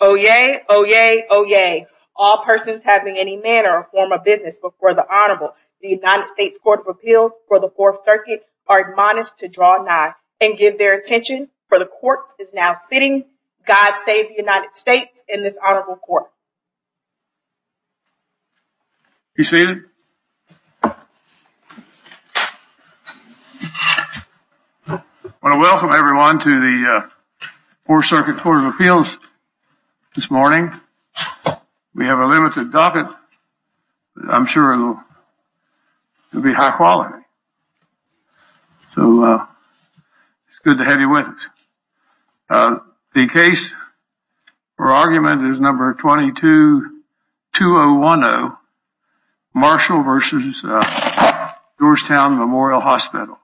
Oyez! Oyez! Oyez! All persons having any manner or form of business before the Honorable, the United States Court of Appeals for the Fourth Circuit, are admonished to draw nigh and give their attention, for the Court is now sitting. God save the United States and Be seated. I want to welcome everyone to the Fourth Circuit Court of Appeals this morning. We have a limited docket. I'm sure it'll be high quality, so it's good to have you with us. The case or argument is number 22-2010, Marshall v. Georgetown Memorial Hospital.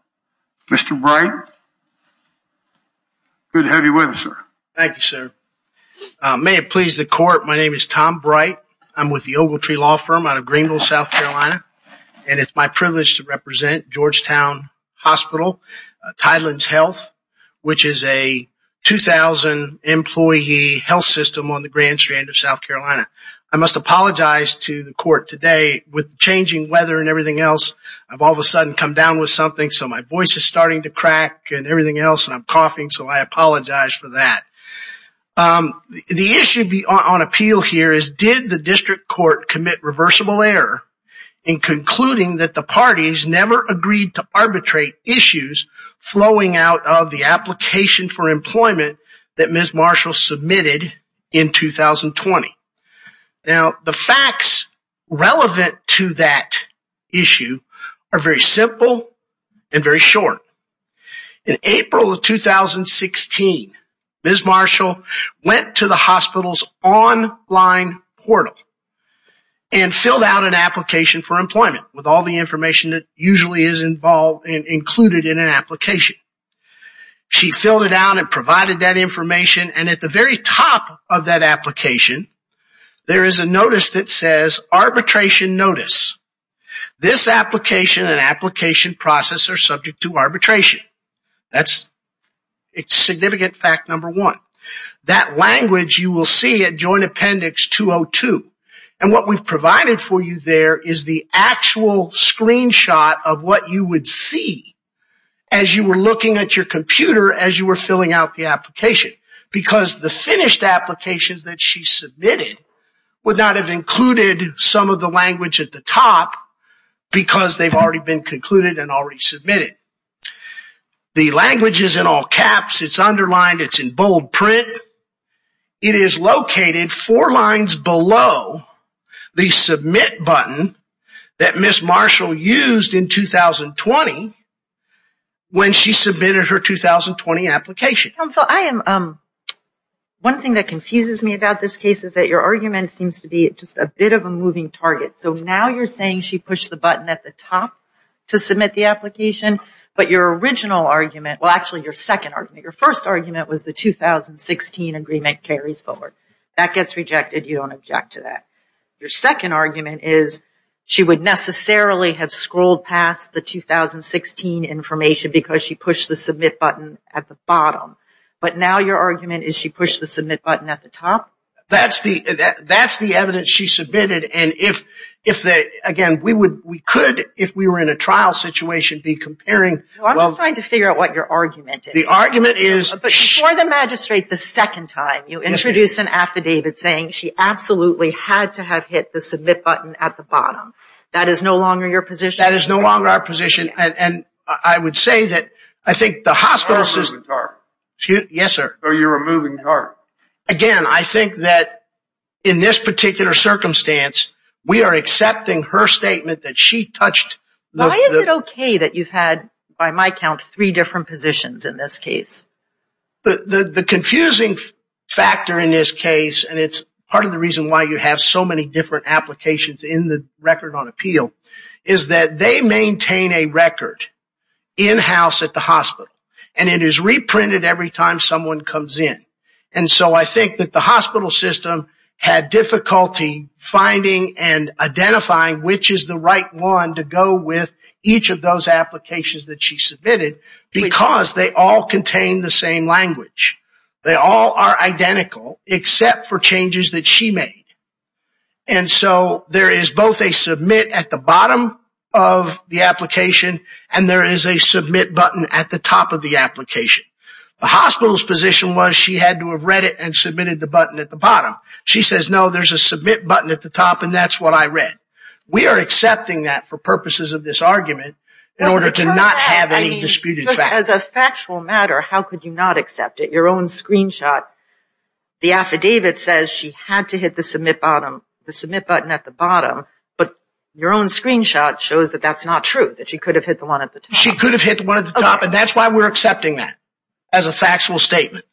Mr. Bright, good to have you with us, sir. Thank you, sir. May it please the Court, my name is Tom Bright. I'm with the Ogletree Law Firm out of Greenville, South Carolina, and it's my privilege to represent Georgetown Hospital, Tideland's Health, which is a 2,000-employee health system on the Grand Strand of South Carolina. I must apologize to the Court today with changing weather and everything else. I've all of a sudden come down with something, so my voice is starting to crack and everything else, and I'm coughing, so I apologize for that. The issue on appeal here is, did the District Court commit reversible error in concluding that the parties never agreed to arbitrate issues flowing out of the application for employment that Ms. Marshall submitted in 2020? Now, the facts relevant to that issue are very simple and very short. In April of 2016, Ms. Marshall went to the hospital's online portal and filled out an application for employment with all the information that usually is involved and included in an application. She filled it out and provided that information, and at the very top of that application, there is a notice that says, Arbitration Notice. This application and application process are subject to arbitration. That's significant fact number one. That language you will see at Joint Appendix 202, and what we've provided for you there is the actual screenshot of what you would see as you were looking at your computer as you were filling out the application because the finished applications that she submitted would not have included some of the language at the top because they've already been concluded and already submitted. The language is in all caps. It's underlined. It's in bold print. It is located four lines below the submit button that Ms. Marshall used in 2020 when she submitted her 2020 application. Counsel, one thing that confuses me about this case is that your argument seems to be just a bit of a moving target. So now you're saying she pushed the button at the top to submit the application, but your original argument, well actually your second argument, your first argument was the 2016 agreement carries forward. That gets rejected. You don't object to that. Your second argument is she would necessarily have scrolled past the 2016 information because she pushed the submit button at the bottom. But now your argument is she pushed the submit button at the top? That's the evidence she submitted, and again, we could, if we were in a trial situation, be comparing I'm just trying to figure out what your argument is. The argument is But before the magistrate, the second time you introduce an affidavit saying she absolutely had to have hit the submit button at the bottom. That is no longer your position? That is no longer our position, and I would say that I think the hospital system So you're a moving target? Yes, sir. So you're a moving target? Again, I think that in this particular circumstance, we are accepting her statement that she touched Why is it okay that you've had, by my count, three different positions in this case? The confusing factor in this case, and it's part of the reason why you have so many different applications in the Record on Appeal, is that they maintain a record in-house at the hospital, and it is reprinted every time someone comes in. And so I think that the hospital system had difficulty finding and identifying which is the right one to go with each of those applications that she submitted, because they all contain the same language. They all are identical, except for changes that she made. And so there is both a submit at the bottom of the application, and there is a submit button at the top of the application. The hospital's position was she had to have read it and submitted the button at the bottom. She says, no, there's a submit button at the top, and that's what I read. We are accepting that for purposes of this argument in order to not have any disputed facts. As a factual matter, how could you not accept it? Your own screenshot, the affidavit says she had to hit the submit button at the bottom, but your own screenshot shows that that's not true, that she could have hit the one at the top. She could have hit the one at the top, and that's why we're accepting that as a factual statement.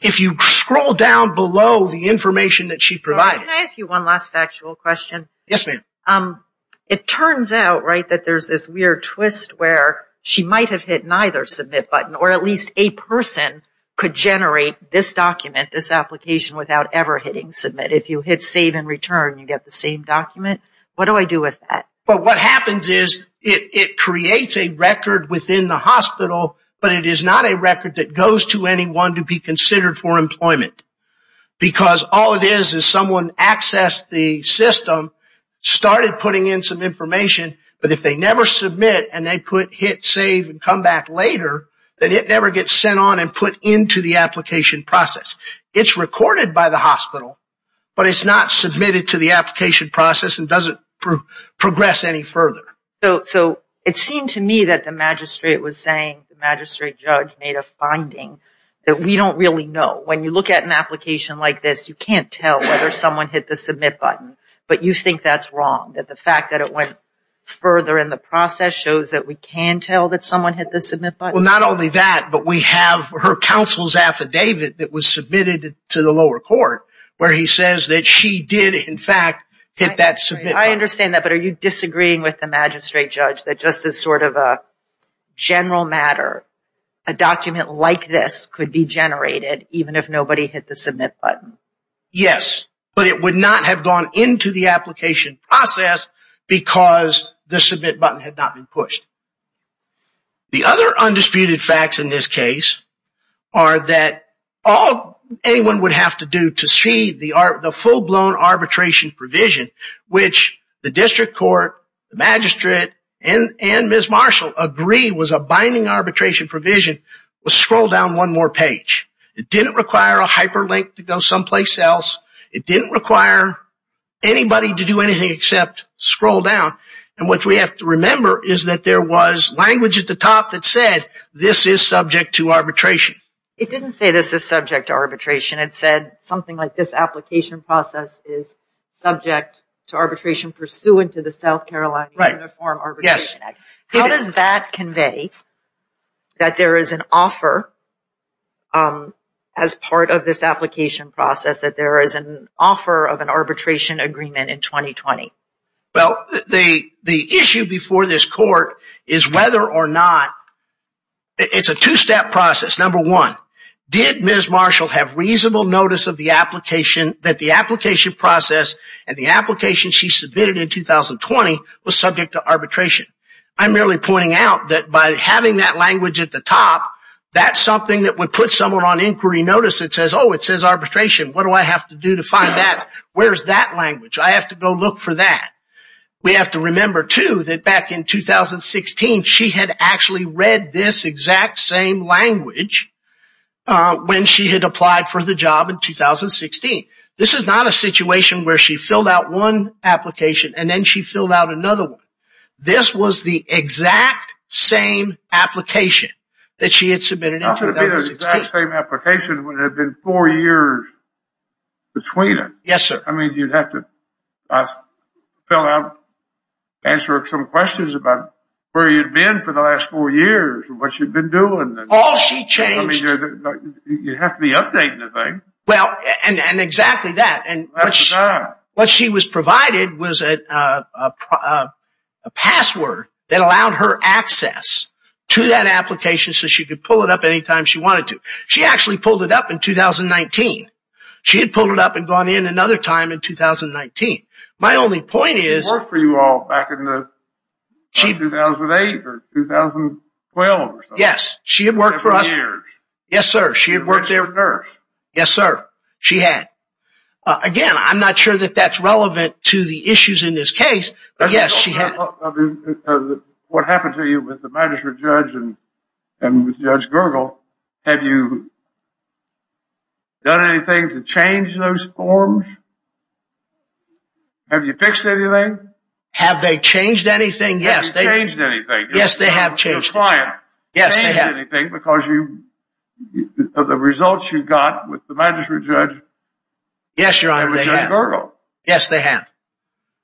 If you scroll down below the information that she provided... Can I ask you one last factual question? Yes, ma'am. It turns out, right, that there's this weird twist where she might have hit neither submit button, or at least a person could generate this document, this application, without ever hitting submit. If you hit save and return, you get the same document. What do I do with that? Well, what happens is it creates a record within the hospital, but it is not a record that goes to anyone to be considered for employment, because all it is is someone accessed the system, started putting in some information, but if they never submit and they hit save and come back later, then it never gets sent on and put into the application process. It's recorded by the hospital, but it's not submitted to the application process and doesn't progress any further. So it seemed to me that the magistrate was saying the magistrate judge made a finding that we don't really know. When you look at an application like this, you can't tell whether someone hit the submit button, but you think that's wrong, that the fact that it went further in the process shows that we can tell that someone hit the submit button? Not only that, but we have her counsel's affidavit that was submitted to the lower court where he says that she did, in fact, hit that submit button. I understand that, but are you disagreeing with the magistrate judge that just as sort of a general matter, a document like this could be generated even if nobody hit the submit button? Yes, but it would not have gone into the application process because the submit button had not been pushed. The other undisputed facts in this case are that all anyone would have to do to see the full-blown arbitration provision, which the district court, the magistrate, and Ms. Marshall agree was a binding arbitration provision, was scroll down one more page. It didn't require a hyperlink to go someplace else. It didn't require anybody to do anything except scroll down. And what we have to remember is that there was language at the top that said this is subject to arbitration. It didn't say this is subject to arbitration. It said something like this application process is subject to arbitration pursuant to the South Carolina Uniform Arbitration Act. How does that convey that there is an offer as part of this application process that there is an offer of an arbitration agreement in 2020? Well, the issue before this court is whether or not, it's a two-step process. Number one, did Ms. Marshall have reasonable notice of the application that the application process and the application she submitted in 2020 was subject to arbitration? I'm really pointing out that by having that language at the top, that's something that would put someone on inquiry notice that says, oh, it says arbitration. What do I have to do to find that? Where's that language? I have to go look for that. We have to remember, too, that back in 2016, she had actually read this exact same language when she had applied for the job in 2016. This is not a situation where she filled out one application and then she filled out another one. This was the exact same application that she had submitted in 2016. Not going to be the exact same application when it had been four years between them. Yes, sir. I mean, you'd have to fill out, answer some questions about where you've been for the last four years, what you've been doing. All she changed... I mean, you have to be updating the thing. Well, and exactly that. What she was provided was a password that allowed her access to that application so she could pull it up anytime she wanted to. She actually pulled it up in 2019. She had pulled it up and gone in another time in 2019. My only point is... 2008 or 2012 or something. Yes. She had worked for us... Yes, sir. She had worked there... Yes, sir. She had. Again, I'm not sure that that's relevant to the issues in this case, but yes, she had... What happened to you with the magistrate judge and with Judge Gergel, have you done anything to change those forms? Have you fixed anything? Have they changed anything? Yes. Have you changed anything? Yes, they have changed. Your client changed anything because of the results you got with the magistrate judge... Yes, Your Honor, they have. And with Judge Gergel. Yes, they have.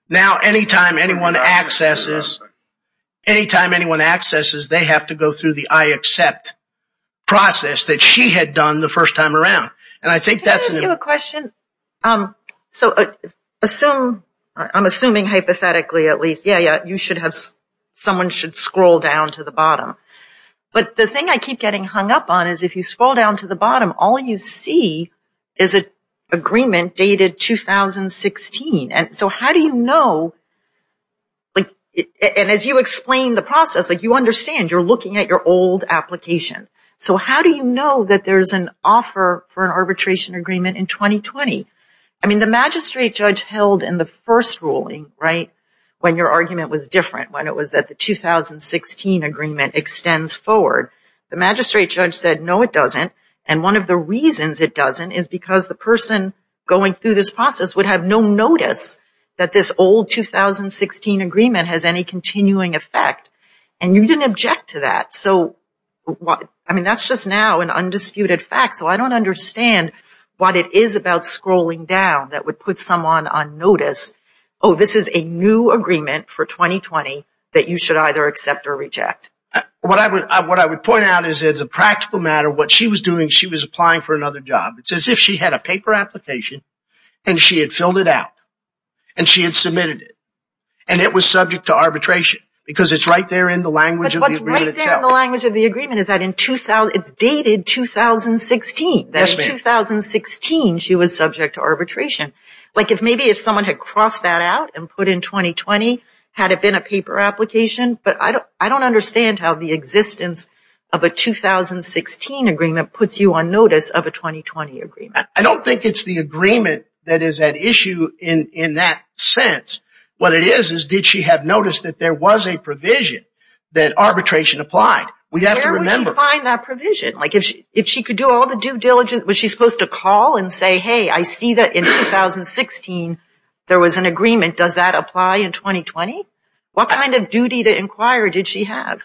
Now, anytime anyone accesses, they have to go through the I accept process that she had done the first time around. And I think that's... Can I ask you a question? So, I'm assuming hypothetically, at least. Yeah, yeah, you should have... Someone should scroll down to the bottom. But the thing I keep getting hung up on is if you scroll down to the bottom, all you see is an agreement dated 2016. And so how do you know... And as you explain the process, you understand you're looking at your old application. So how do you know that there's an offer for an arbitration agreement in 2020? I mean, the magistrate judge held in the first ruling, right, when your argument was different, when it was that the 2016 agreement extends forward. The magistrate judge said, no, it doesn't. And one of the reasons it doesn't is because the person going through this process would have no notice that this old 2016 agreement has any continuing effect. And you didn't object to that. So, I mean, that's just now an undisputed fact. So I don't understand what it is about scrolling down that would put someone on notice. Oh, this is a new agreement for 2020 that you should either accept or reject. What I would point out is it's a practical matter. What she was doing, she was applying for another job. It's as if she had a paper application and she had filled it out and she had submitted it. And it was subject to arbitration because it's right there in the language of the agreement. Right there in the language of the agreement is that it's dated 2016. That in 2016, she was subject to arbitration. Like if maybe if someone had crossed that out and put in 2020, had it been a paper application. But I don't understand how the existence of a 2016 agreement puts you on notice of a 2020 agreement. I don't think it's the agreement that is at issue in that sense. What it is, is did she have noticed that there was a provision that arbitration applied? Where would she find that provision? If she could do all the due diligence, was she supposed to call and say, hey, I see that in 2016, there was an agreement. Does that apply in 2020? What kind of duty to inquire did she have?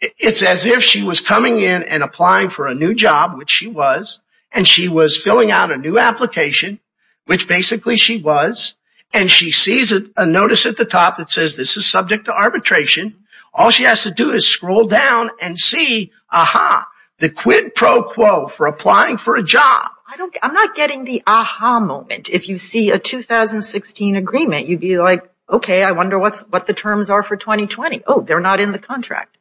It's as if she was coming in and applying for a new job, which she was. And she was filling out a new application, which basically she was. And she sees a notice at the top that says this is subject to arbitration. All she has to do is scroll down and see, aha, the quid pro quo for applying for a job. I'm not getting the aha moment. If you see a 2016 agreement, you'd be like, OK, I wonder what the terms are for 2020. Oh, they're not in the contract.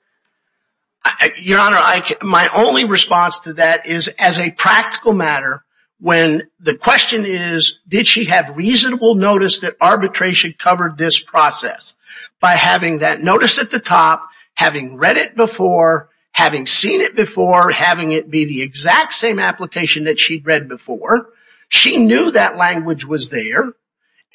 Your Honor, my only response to that is as a practical matter. When the question is, did she have reasonable notice that arbitration covered this process? By having that notice at the top, having read it before, having seen it before, having it be the exact same application that she'd read before, she knew that language was there.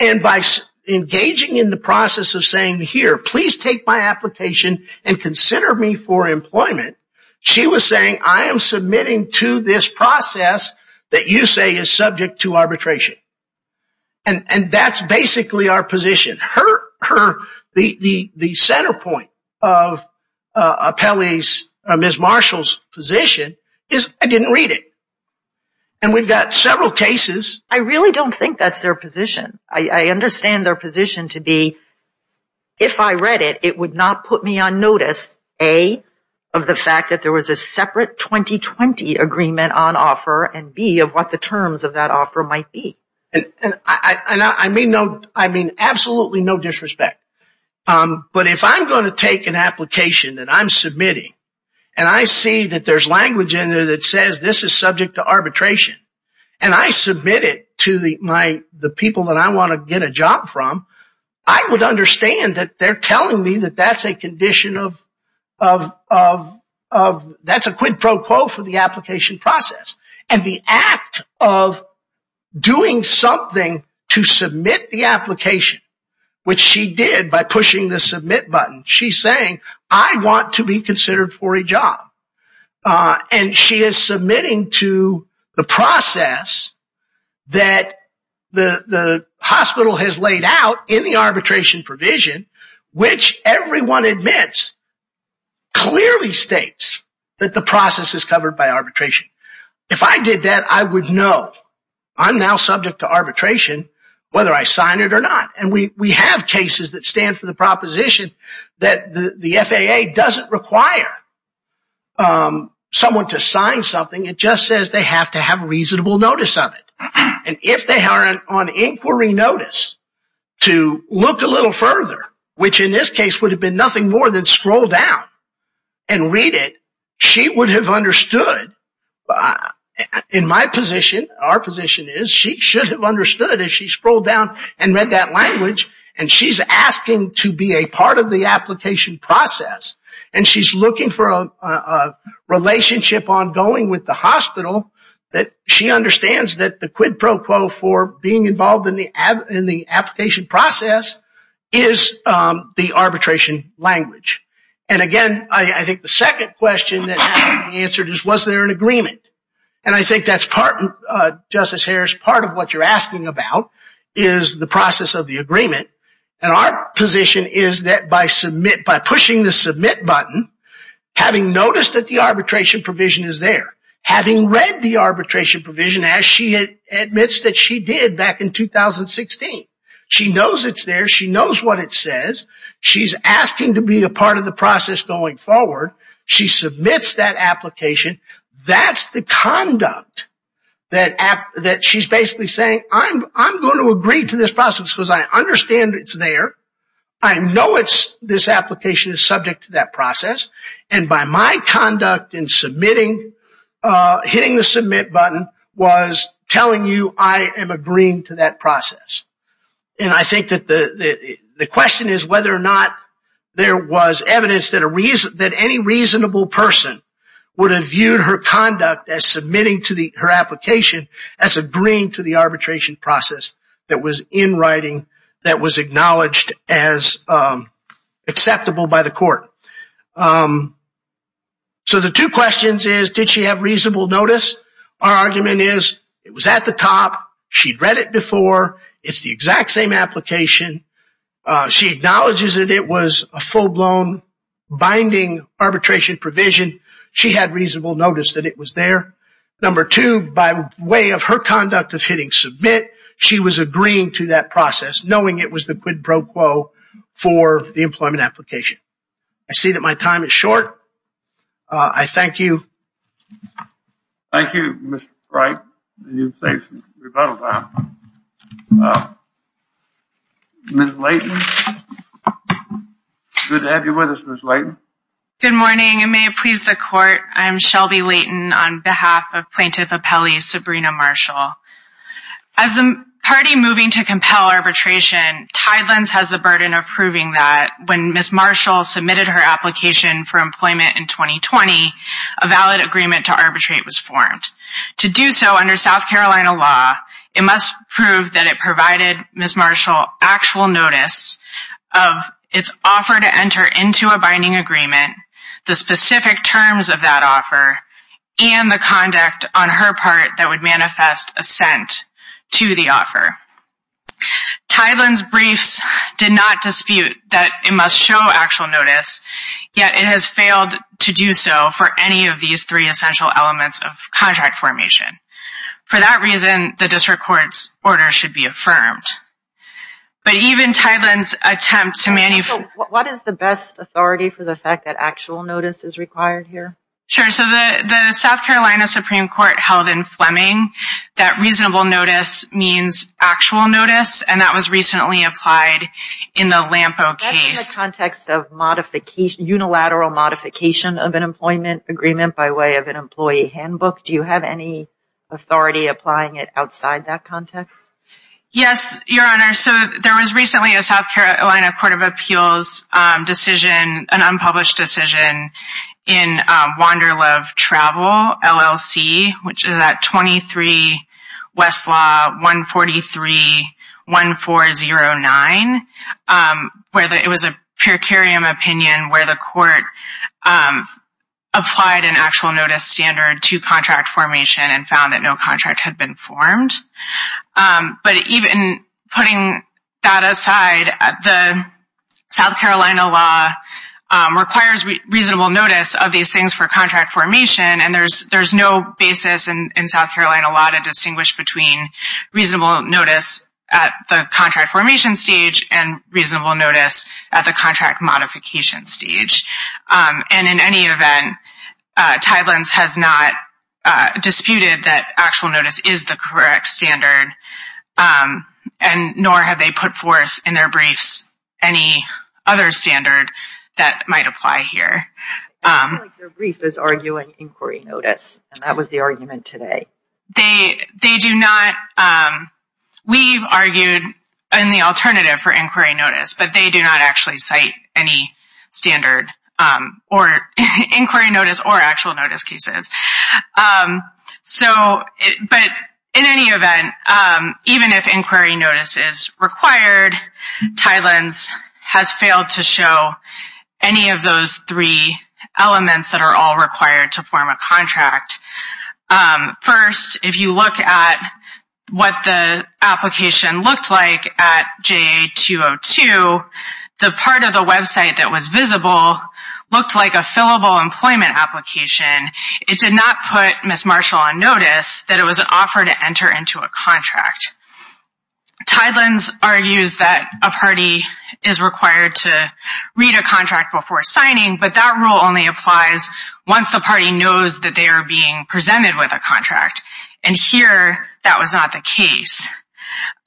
And by engaging in the process of saying, here, please take my application and consider me for employment. She was saying, I am submitting to this process that you say is subject to arbitration. And that's basically our position. The center point of Ms. Marshall's position is, I didn't read it. And we've got several cases. I really don't think that's their position. I understand their position to be, if I read it, it would not put me on notice, A, of the fact that there was a separate 2020 agreement on offer, and B, of what the terms of that offer might be. I mean, absolutely no disrespect. But if I'm going to take an application that I'm submitting, and I see that there's language in there that says, this is subject to arbitration, and I submit it to the people that I want to get a job from, I would understand that they're telling me that that's a condition of, that's a quid pro quo for the application process. And the act of doing something to submit the application, which she did by pushing the submit button, she's saying, I want to be considered for a job. And she is submitting to the process that the hospital has laid out in the arbitration provision, which everyone admits, clearly states that the process is covered by arbitration. If I did that, I would know I'm now subject to arbitration, whether I sign it or not. And we have cases that stand for the proposition that the FAA doesn't require someone to sign something. It just says they have to have reasonable notice of it. And if they are on inquiry notice to look a little further, which in this case would have been nothing more than scroll down and read it, she would have understood. In my position, our position is she should have understood if she scrolled down and read that language, and she's asking to be a part of the application process, and she's looking for a relationship ongoing with the hospital that she understands that the quid pro quo for being involved in the application process is the arbitration language. And again, I think the second question that has to be answered is was there an agreement? And I think that's part, Justice Harris, part of what you're asking about is the process of the agreement. And our position is that by pushing the submit button, having noticed that the arbitration provision is there, having read the arbitration provision as she admits that she did back in 2016, she knows it's there. She knows what it says. She's asking to be a part of the process going forward. She submits that application. That's the conduct that she's basically saying, I'm going to agree to this process because I understand it's there. I know this application is subject to that process. And by my conduct in submitting, hitting the submit button was telling you I am agreeing to that process. And I think that the question is whether or not there was evidence that any reasonable person would have viewed her conduct as submitting to her application, as agreeing to the arbitration process that was in writing, that was acknowledged as acceptable by the court. So the two questions is, did she have reasonable notice? Our argument is it was at the top. She'd read it before. It's the exact same application. She acknowledges that it was a full-blown binding arbitration provision. She had reasonable notice that it was there. Number two, by way of her conduct of hitting submit, she was agreeing to that process, knowing it was the quid pro quo for the employment application. I see that my time is short. I thank you. Thank you, Mr. Bright. Ms. Leighton. Good to have you with us, Ms. Leighton. Good morning and may it please the court. I'm Shelby Leighton on behalf of Plaintiff Appellee Sabrina Marshall. As the party moving to compel arbitration, Tidelands has the burden of proving that when Ms. Marshall submitted her application for employment in 2020, a valid agreement to arbitrate was formed. To do so under South Carolina law, it must prove that it provided Ms. Marshall actual notice of its offer to enter into a binding agreement, the specific terms of that offer, and the conduct on her part that would manifest assent to the offer. Tidelands' briefs did not dispute that it must show actual notice, yet it has failed to do so for any of these three essential elements of contract formation. For that reason, the district court's order should be affirmed. But even Tidelands' attempt to mani... So what is the best authority for the fact that actual notice is required here? That reasonable notice means actual notice, and that was recently applied in the Lampo case. In the context of unilateral modification of an employment agreement by way of an employee handbook, do you have any authority applying it outside that context? Yes, Your Honor. So there was recently a South Carolina Court of Appeals decision, an unpublished decision in Wanderlove Travel LLC, which is at 23 Westlaw 143-1409, where it was a per curiam opinion where the court applied an actual notice standard to contract formation and found that no contract had been formed. But even putting that aside, the South Carolina law requires reasonable notice of these things for contract formation, and there's no basis in South Carolina law to distinguish between reasonable notice at the contract formation stage and reasonable notice at the contract modification stage. And in any event, Tidelands has not disputed that actual notice is the correct standard, nor have they put forth in their briefs any other standard that might apply here. Their brief is arguing inquiry notice, and that was the argument today. We've argued in the alternative for inquiry notice, but they do not actually cite any standard or inquiry notice or actual notice cases. But in any event, even if inquiry notice is required, Tidelands has failed to show any of those three elements that are all required to form a contract. First, if you look at what the application looked like at JA-202, the part of the website that was visible looked like a fillable employment application. It did not put Ms. Marshall on notice that it was an offer to enter into a contract. Tidelands argues that a party is required to read a contract before signing, but that rule only applies once the party knows that they are being presented with a contract. And here, that was not the case.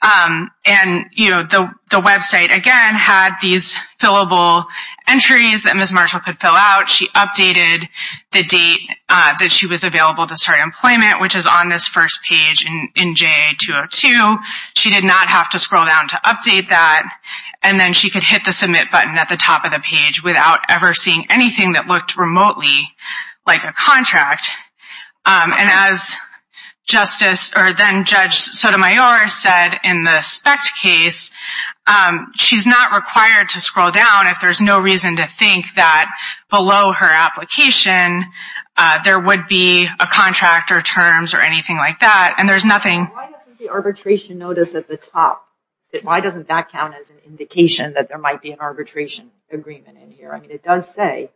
And the website, again, had these fillable entries that Ms. Marshall could fill out. She updated the date that she was available to start employment, which is on this first page in JA-202. She did not have to scroll down to update that. And then she could hit the submit button at the top of the page without ever seeing anything that looked remotely like a contract. And as Justice, or then Judge Sotomayor said in the SPECT case, she's not required to scroll down if there's no reason to think that below her application there would be a contract or terms or anything like that. And there's nothing- Why doesn't the arbitration notice at the top, why doesn't that count as an indication that there might be an arbitration agreement in here? I mean, it does say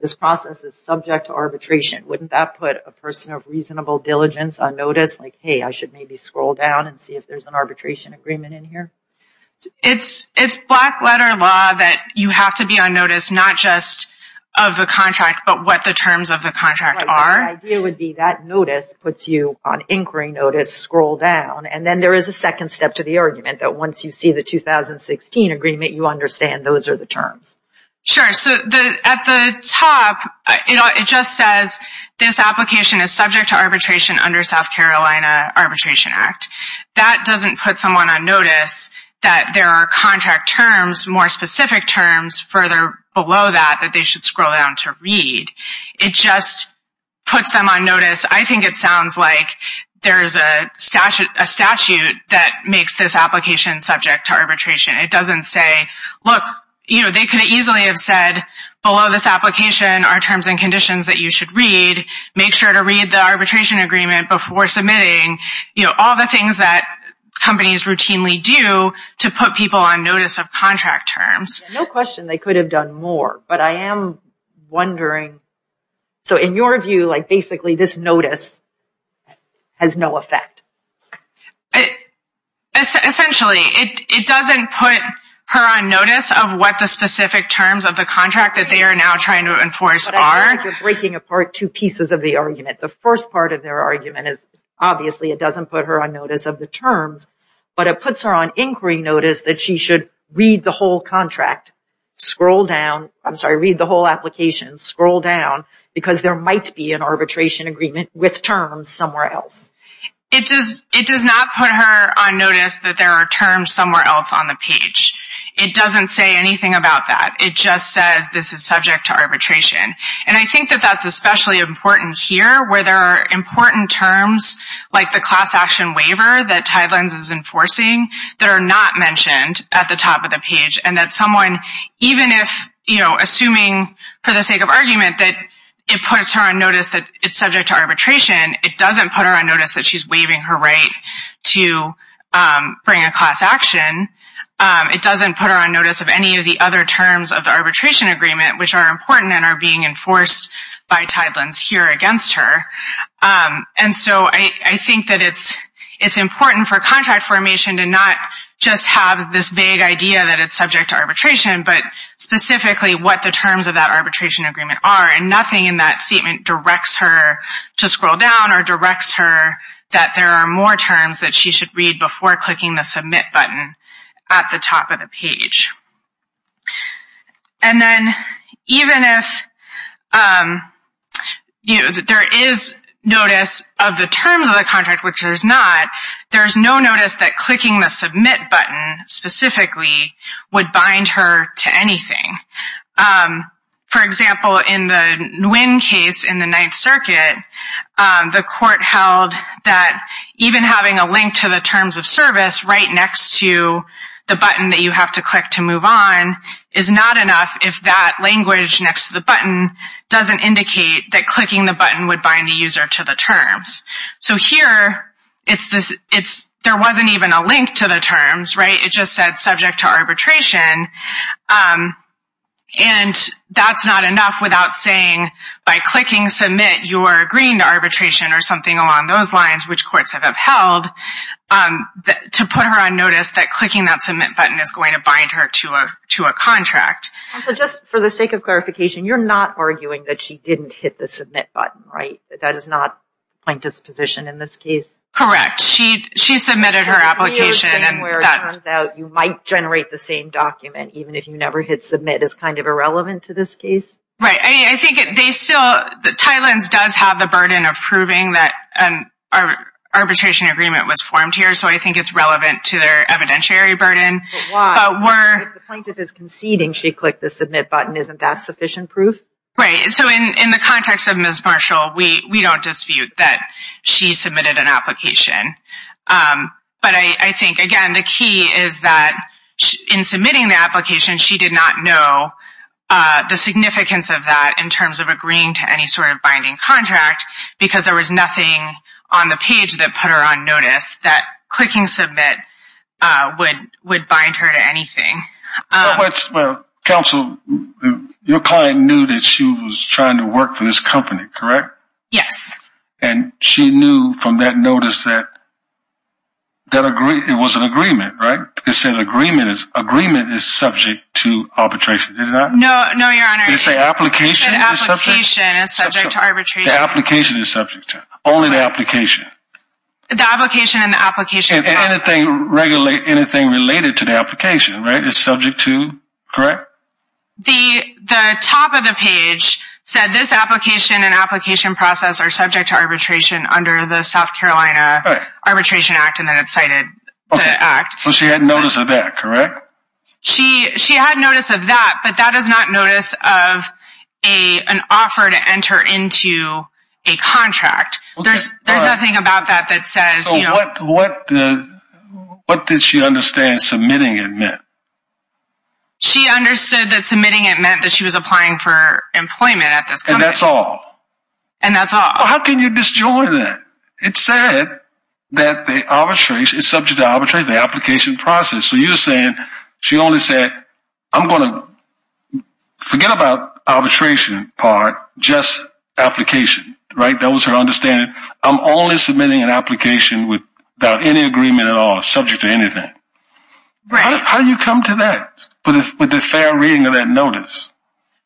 this process is subject to arbitration. Wouldn't that put a person of reasonable diligence on notice? Like, hey, I should maybe scroll down and see if there's an arbitration agreement in here. It's black letter law that you have to be on notice, not just of the contract, but what the terms of the contract are. The idea would be that notice puts you on inquiry notice, scroll down, and then there is a second step to the argument that once you see the 2016 agreement, you understand those are the terms. Sure. So at the top, it just says this application is subject to arbitration under South Carolina Arbitration Act. That doesn't put someone on notice that there are contract terms, more specific terms further below that that they should scroll down to read. It just puts them on notice. I think it sounds like there's a statute that makes this application subject to arbitration. It doesn't say, look, you know, they could easily have said below this application are terms and conditions that you should read. Make sure to read the arbitration agreement before submitting, you know, all the things that companies routinely do to put people on notice of contract terms. No question they could have done more, but I am wondering, so in your view, like basically this notice has no effect. Essentially, it doesn't put her on notice of what the specific terms of the contract that they are now trying to enforce are. I feel like you're breaking apart two pieces of the argument. The first part of their argument is, obviously, it doesn't put her on notice of the terms, but it puts her on inquiry notice that she should read the whole contract, scroll down, I'm sorry, read the whole application, scroll down, because there might be an arbitration agreement with terms somewhere else. It does not put her on notice that there are terms somewhere else on the page. It doesn't say anything about that. It just says this is subject to arbitration. And I think that that's especially important here where there are important terms, like the class action waiver that Tidelines is enforcing that are not mentioned at the top of the page and that someone, even if, you know, assuming for the sake of argument that it puts her on notice that it's subject to arbitration, it doesn't put her on notice that she's waiving her right to bring a class action. It doesn't put her on notice of any of the other terms of the arbitration agreement, which are important and are being enforced by Tidelines here against her. And so I think that it's important for contract formation to not just have this vague idea that it's subject to arbitration, but specifically what the terms of that arbitration agreement are. And nothing in that statement directs her to scroll down or directs her that there are more terms that she should read before clicking the submit button at the top of the page. And then even if, you know, there is notice of the terms of the contract, which there's not, there's no notice that clicking the submit button specifically would bind her to anything. For example, in the Nguyen case in the Ninth Circuit, the court held that even having a link to the terms of service right next to the button that you have to click to move on is not enough if that language next to the button doesn't indicate that clicking the button would bind the user to the terms. So here, there wasn't even a link to the terms, right? It just said subject to arbitration. And that's not enough without saying by clicking submit, you are agreeing to arbitration or something along those lines, which courts have upheld to put her on notice that clicking that submit button is going to bind her to a contract. And so just for the sake of clarification, you're not arguing that she didn't hit the submit button, right? That is not plaintiff's position in this case. Correct. She submitted her application. And where it turns out you might generate the same document, even if you never hit submit, is kind of irrelevant to this case. Right. I mean, I think they still, the Thailand's does have the burden of proving that an arbitration agreement was formed here. So I think it's relevant to their evidentiary burden. But why? But if the plaintiff is conceding she clicked the submit button, isn't that sufficient proof? Right. So in the context of Ms. Marshall, we don't dispute that she submitted an application. But I think, again, the key is that in submitting the application, she did not know the significance of that in terms of agreeing to any sort of binding contract because there was nothing on the page that put her on notice that clicking submit would bind her to anything. Well, counsel, your client knew that she was trying to work for this company, correct? Yes. And she knew from that notice that it was an agreement, right? It said agreement is subject to arbitration. Did it not? No, no, your honor. It said application is subject. An application is subject to arbitration. The application is subject to, only the application. The application and the application process. And anything related to the application, right, is subject to, correct? The top of the page said this application and application process are subject to arbitration under the South Carolina Arbitration Act and then it cited the act. So she had notice of that, correct? She had notice of that, but that is not notice of an offer to enter into a contract. There's nothing about that that says, you know. So what did she understand submitting it meant? She understood that submitting it meant that she was applying for employment at this company. And that's all? And that's all. How can you disjoin that? It said that the arbitration is subject to arbitration, the application process. So you're saying she only said, I'm going to forget about arbitration part, just application, right? That was her understanding. I'm only submitting an application without any agreement at all, subject to anything. How do you come to that? With a fair reading of that notice.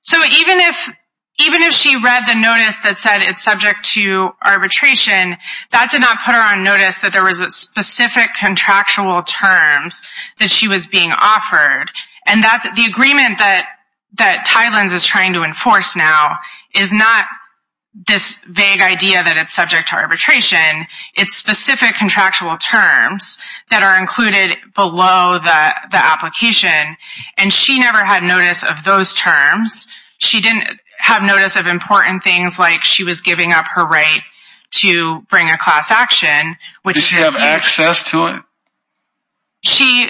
So even if she read the notice that said it's subject to arbitration, that did not put her on notice that there was a specific contractual terms that she was being offered. And that's the agreement that Tylenz is trying to enforce now is not this vague idea that it's subject to arbitration. It's specific contractual terms that are included below the application. And she never had notice of those terms. She didn't have notice of important things she was giving up her right to bring a class action. Does she have access to it? She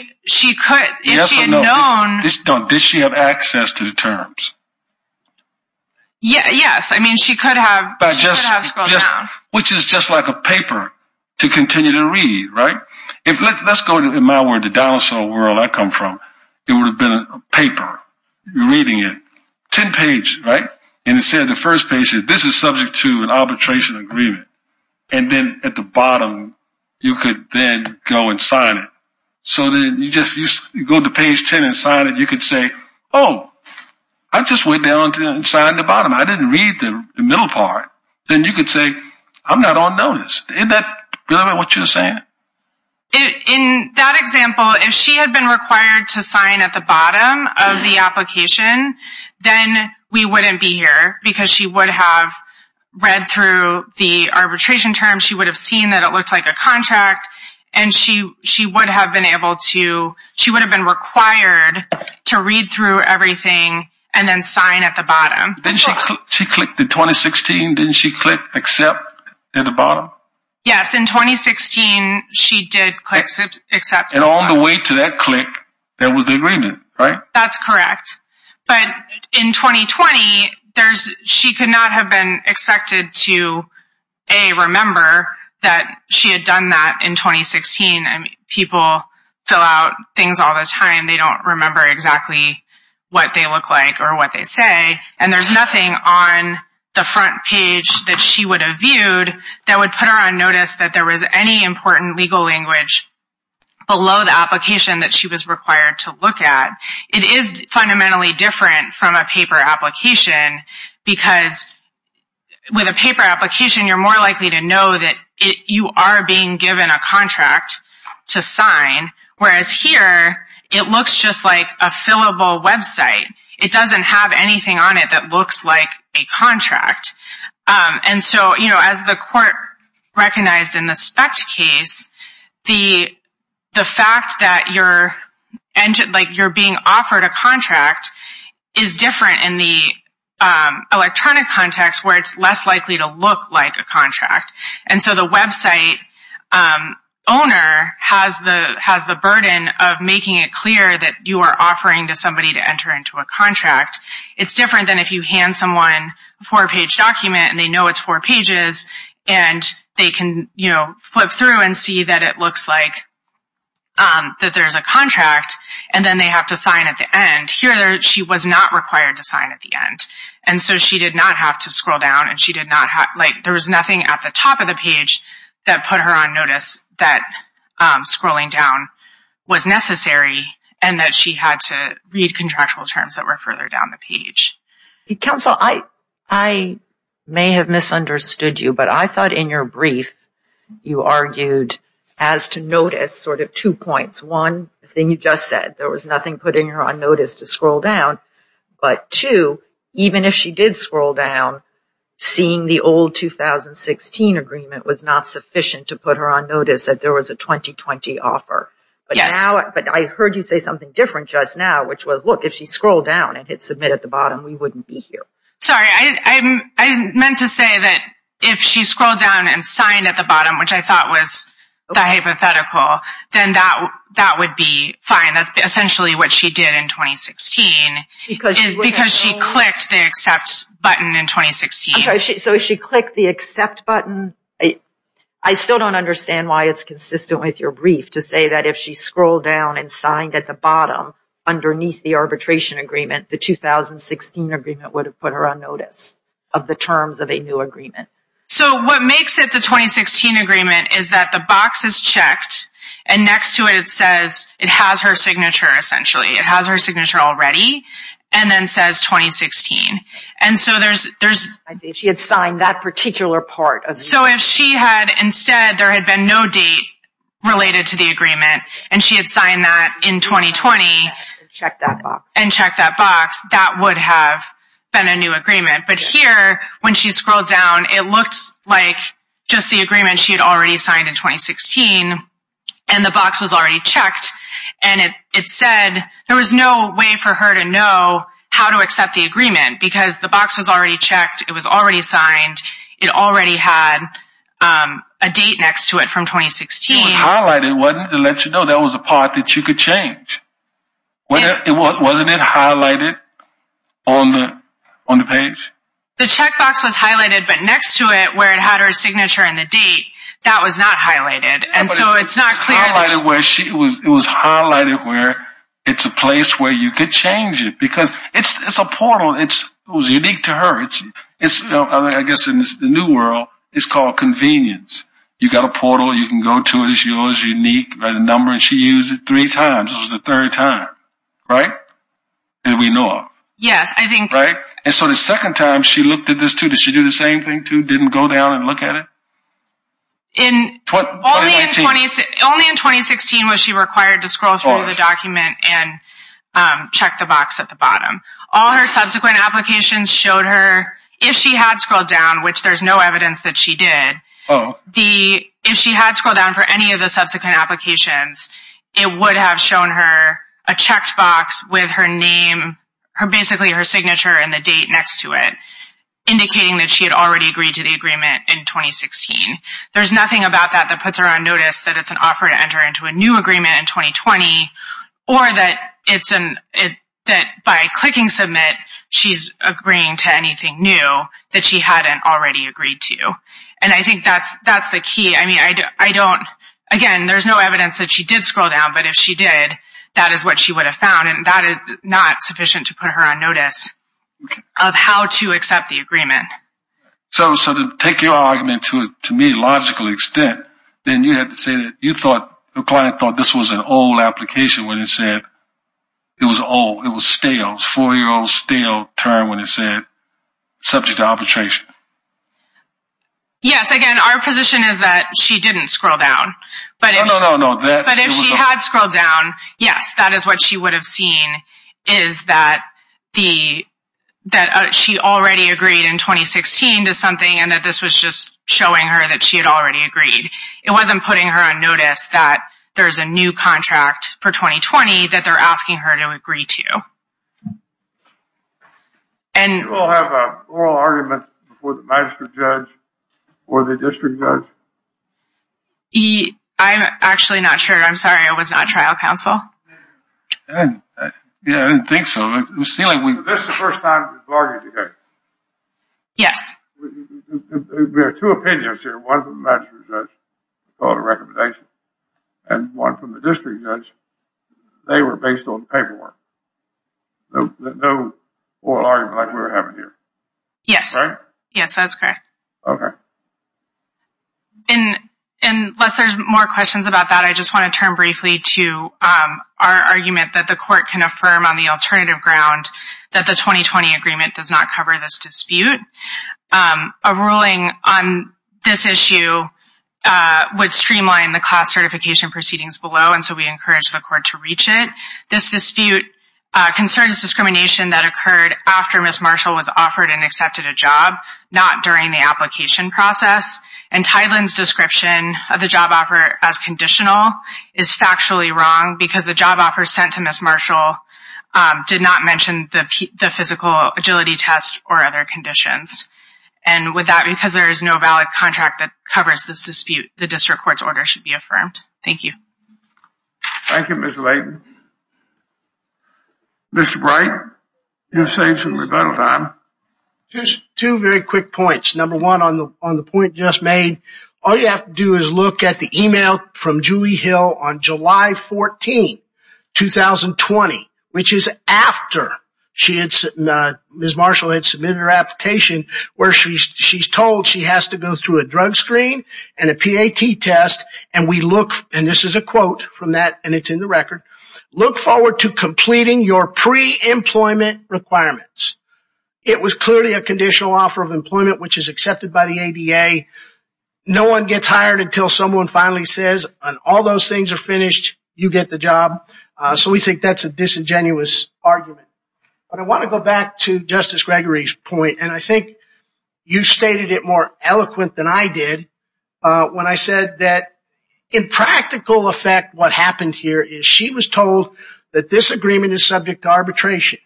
could, if she had known. Does she have access to the terms? Yes, I mean, she could have scrolled down. Which is just like a paper to continue to read, right? Let's go to, in my word, the dinosaur world I come from. It would have been a paper, reading it. 10 page, right? And it said the first page is, this is subject to an arbitration agreement. And then at the bottom, you could then go and sign it. So then you just go to page 10 and sign it. You could say, oh, I just went down and signed the bottom. I didn't read the middle part. Then you could say, I'm not on notice. Isn't that what you're saying? In that example, if she had been required to sign at the bottom of the application, then we wouldn't be here because she would have read through the arbitration term. She would have seen that it looked like a contract. And she would have been able to, she would have been required to read through everything and then sign at the bottom. Didn't she click the 2016? Didn't she click accept at the bottom? Yes, in 2016, she did click accept. And on the way to that click, there was the agreement, right? That's correct. But in 2020, she could not have been expected to, A, remember that she had done that in 2016. I mean, people fill out things all the time. They don't remember exactly what they look like or what they say. And there's nothing on the front page that she would have viewed that would put her on notice that there was any important legal language below the application that she was required to look at. It is fundamentally different from a paper application because with a paper application, you're more likely to know that you are being given a contract to sign. Whereas here, it looks just like a fillable website. It doesn't have anything on it that looks like a contract. And so, as the court recognized in the SPECT case, the fact that you're being offered a contract is different in the electronic context where it's less likely to look like a contract. And so, the website owner has the burden of making it clear that you are offering to somebody to enter into a contract. It's different than if you hand someone a four-page document and they know it's four pages and they can flip through and see that it looks like that there's a contract and then they have to sign at the end. Here, she was not required to sign at the end. And so, she did not have to scroll down and there was nothing at the top of the page that put her on notice that scrolling down was necessary that were further down the page. Counsel, I may have misunderstood you, but I thought in your brief, you argued as to notice sort of two points. One, the thing you just said, there was nothing putting her on notice to scroll down. But two, even if she did scroll down, seeing the old 2016 agreement was not sufficient to put her on notice that there was a 2020 offer. But I heard you say something different just now, which was, look, if she scrolled down and hit submit at the bottom, we wouldn't be here. Sorry, I meant to say that if she scrolled down and signed at the bottom, which I thought was the hypothetical, then that would be fine. That's essentially what she did in 2016 because she clicked the accept button in 2016. So, if she clicked the accept button, I still don't understand why it's consistent with your brief to say that if she scrolled down and signed at the bottom underneath the arbitration agreement, the 2016 agreement would have put her on notice of the terms of a new agreement. So, what makes it the 2016 agreement is that the box is checked and next to it, it says, it has her signature, essentially. It has her signature already and then says 2016. And so, there's... She had signed that particular part. So, if she had, instead, there had been no date related to the agreement and she had signed that in 2020... Check that box. And check that box, that would have been a new agreement. But here, when she scrolled down, it looked like just the agreement she had already signed in 2016 and the box was already checked. And it said there was no way for her to know how to accept the agreement because the box was already checked. It was already signed. It already had a date next to it from 2016. It was highlighted, wasn't it? It let you know that was a part that you could change. Wasn't it highlighted on the page? The checkbox was highlighted, but next to it, where it had her signature and the date, that was not highlighted. And so, it's not clear... It was highlighted where it's a place where you could change it because it's a portal. It was unique to her. I guess, in the new world, it's called convenience. You got a portal, you can go to it. It's yours, unique. Write a number and she used it three times. It was the third time, right? Did we know of? Yes, I think... Right? And so, the second time she looked at this too, did she do the same thing too? Didn't go down and look at it? Only in 2016 was she required to scroll through the document and check the box at the bottom. All her subsequent applications showed her, if she had scrolled down, which there's no evidence that she did, if she had scrolled down for any of the subsequent applications, it would have shown her a checked box with her name, basically her signature, and the date next to it, indicating that she had already agreed to the agreement in 2016. There's nothing about that that puts her on notice that it's an offer to enter into a new agreement in 2020 or that by clicking submit, she's agreeing to anything new that she hadn't already agreed to. And I think that's the key. Again, there's no evidence that she did scroll down, but if she did, that is what she would have found. And that is not sufficient to put her on notice of how to accept the agreement. So to take your argument to me, logical extent, then you have to say that you thought, the client thought this was an old application when it said it was old, it was stale, four-year-old stale term when it said subject to arbitration. Yes, again, our position is that she didn't scroll down. But if she had scrolled down, yes, that is what she would have seen is that she already agreed in 2016 to something and that this was just showing her that she had already agreed. It wasn't putting her on notice that there's a new contract for 2020 that they're asking her to agree to. And- You all have an oral argument before the magistrate judge or the district judge? I'm actually not sure. I'm sorry. I was not trial counsel. Yeah, I didn't think so. This is the first time we've argued together. Yes. We have two opinions here. One from the magistrate judge called a recommendation and one from the district judge. They were based on paperwork. No oral argument like we're having here. Yes. Yes, that's correct. Okay. So, unless there's more questions about that, I just want to turn briefly to our argument that the court can affirm on the alternative ground that the 2020 agreement does not cover this dispute. A ruling on this issue would streamline the class certification proceedings below, and so we encourage the court to reach it. This dispute concerns discrimination that occurred after Ms. Marshall was offered and accepted a job, not during the application process. And Tideland's description of the job offer as conditional is factually wrong because the job offer sent to Ms. Marshall did not mention the physical agility test or other conditions. And with that, because there is no valid contract that covers this dispute, the district court's order should be affirmed. Thank you. Thank you, Ms. Leighton. Mr. Bright, you've saved some rebuttal time. Just two very quick points. Number one, on the point just made, all you have to do is look at the email from Julie Hill on July 14, 2020, which is after Ms. Marshall had submitted her application where she's told she has to go through a drug screen and a PAT test. And we look, and this is a quote from that, and it's in the record, look forward to completing your pre-employment requirements. It was clearly a conditional offer of employment, which is accepted by the ADA. No one gets hired until someone finally says, and all those things are finished, you get the job. So we think that's a disingenuous argument. But I want to go back to Justice Gregory's point. And I think you stated it more eloquent than I did when I said that in practical effect, what happened here is she was told that this agreement is subject to arbitration.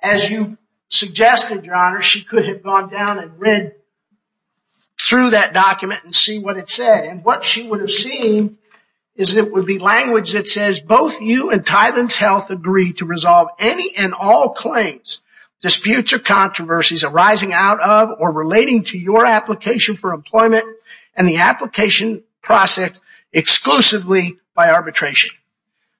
As you suggested, Your Honor, she could have gone down and read through that document and see what it said. And what she would have seen is it would be language that says, both you and Tylen's Health agree to resolve any and all claims, disputes or controversies arising out of or relating to your application for employment and the application process exclusively by arbitration.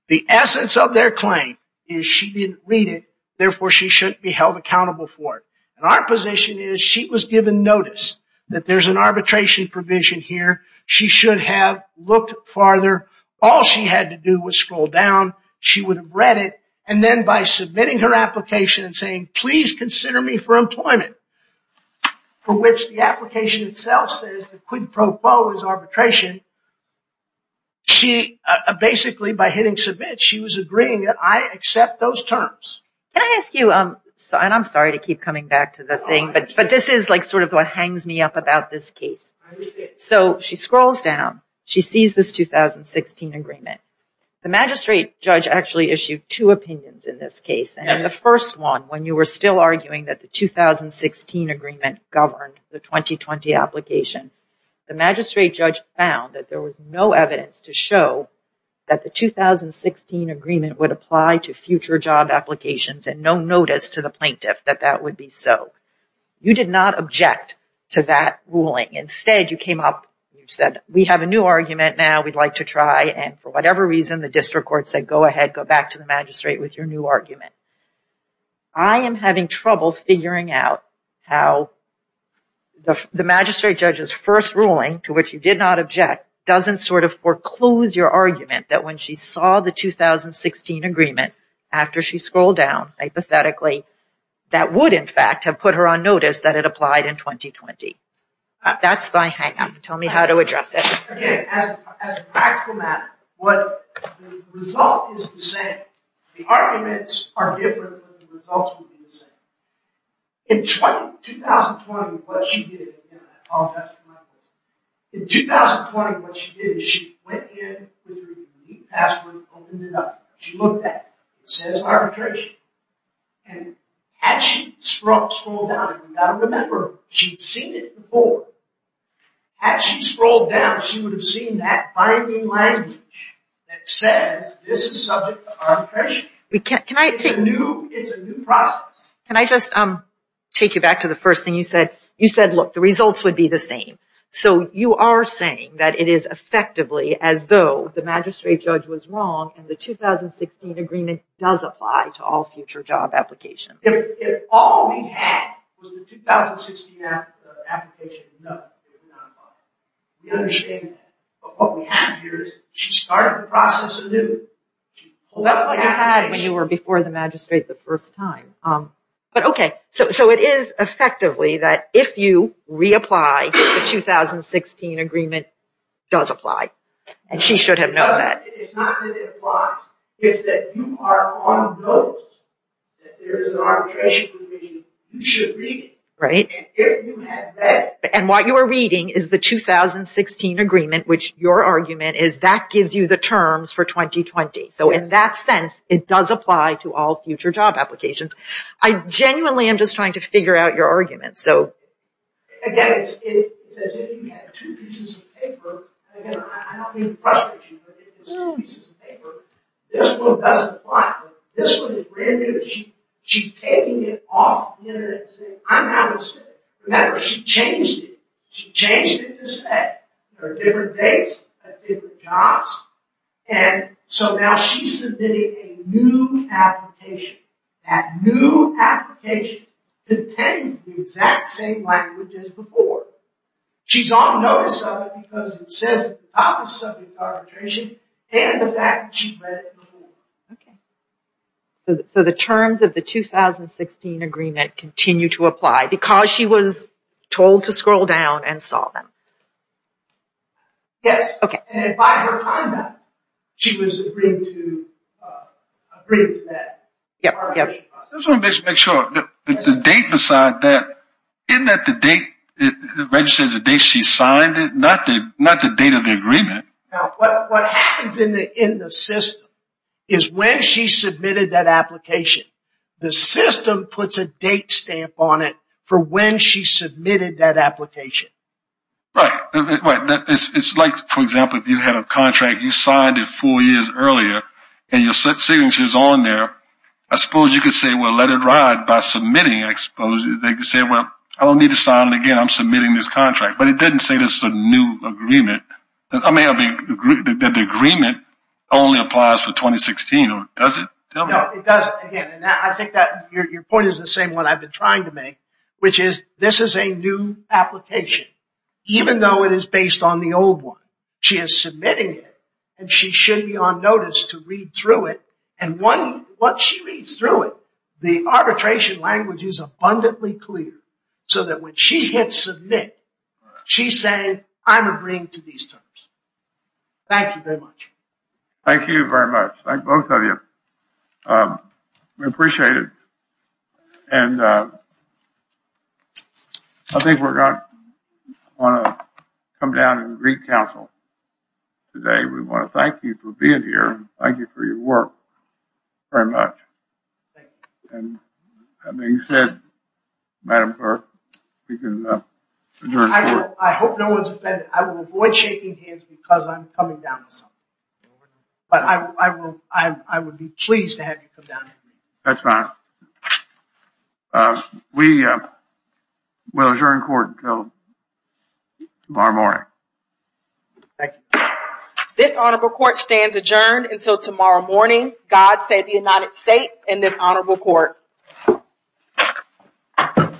The essence of their claim is she didn't read it. Therefore, she shouldn't be held accountable for it. And our position is she was given notice that there's an arbitration provision here. She should have looked farther. All she had to do was scroll down. She would have read it. And then by submitting her application and saying, please consider me for employment, for which the application itself says the quid pro quo is arbitration. She basically, by hitting submit, she was agreeing that I accept those terms. Can I ask you, and I'm sorry to keep coming back to the thing, but this is like sort of what hangs me up about this case. So she scrolls down. She sees this 2016 agreement. The magistrate judge actually issued two opinions in this case. And in the first one, when you were still arguing that the 2016 agreement governed the 2020 application, the magistrate judge found that there was no evidence to show that the 2016 agreement would apply to future job applications and no notice to the plaintiff that that would be so. You did not object to that ruling. Instead, you came up. You said, we have a new argument now. We'd like to try. And for whatever reason, the district court said, go ahead. Go back to the magistrate with your new argument. I am having trouble figuring out how the magistrate judge's first ruling, to which you did not object, doesn't sort of foreclose your argument that when she saw the 2016 agreement after she scrolled down, hypothetically, that would, in fact, have put her on notice that it applied in 2020. That's my hang-up. Tell me how to address it. Again, as a practical matter, what the result is the same. The arguments are different than the results would be the same. In 2020, what she did, in 2020, what she did is she went in with her unique password, opened it up. She looked at it. It says arbitration. And had she scrolled down, and you've got to remember, she'd seen it before. Had she scrolled down, she would have seen that binding language that says this is subject to arbitration. Can I just take you back to the first thing you said? You said, look, the results would be the same. So you are saying that it is effectively as though the magistrate judge was wrong and the 2016 agreement does apply to all future job applications. If all we had was the 2016 application, no, it would not apply. We understand that. But what we have here is she started the process anew. Well, that's what you had when you were before the magistrate the first time. But OK, so it is effectively that if you reapply, the 2016 agreement does apply. And she should have known that. It's not that it applies. It's that you are on those. That there is an arbitration provision. You should read it. Right. And what you are reading is the 2016 agreement, which your argument is that gives you the terms for 2020. So in that sense, it does apply to all future job applications. I genuinely am just trying to figure out your arguments. Again, it's as if you had two pieces of paper. Again, I don't mean to frustrate you, but it's two pieces of paper. This one doesn't apply. This one is brand new. She's taking it off the internet and saying, I'm not going to stay. No matter what, she changed it. She changed it to say there are different dates at different jobs. And so now she's submitting a new application. That new application contains the exact same language as before. She's on notice of it because it says the topic of arbitration and the fact that she read it before. OK. So the terms of the 2016 agreement continue to apply because she was told to scroll down and solve them. Yes. OK. And by her comment, she was agreeing to that. Yep. Yep. I just want to make sure the date beside that, isn't that the date registered as the date she signed it? Not the date of the agreement. Now, what happens in the system is when she submitted that application, the system puts a date stamp on it for when she submitted that application. Right. It's like, for example, if you had a contract, you signed it four years earlier and your signature is on there. I suppose you could say, well, let it ride by submitting. I suppose they could say, well, I don't need to sign it again. I'm submitting this contract. But it doesn't say there's a new agreement. I mean, the agreement only applies for 2016, or does it? No, it doesn't. Again, I think that your point is the same one I've been trying to make, which is this is a new application, even though it is based on the old one. She is submitting it and she should be on notice to read through it. And once she reads through it, the arbitration language is abundantly clear so that when she hits submit, she's saying I'm agreeing to these terms. Thank you very much. Thank you very much. Thank both of you. We appreciate it. And I think we're going to want to come down and greet counsel today. We want to thank you for being here. Thank you for your work. Very much. And having said, Madam Clerk, we can adjourn. I hope no one's offended. I will avoid shaking hands because I'm coming down with something. But I would be pleased to have you come down. That's fine. We will adjourn court until tomorrow morning. Thank you. This honorable court stands adjourned until tomorrow morning. God save the United States and this honorable court.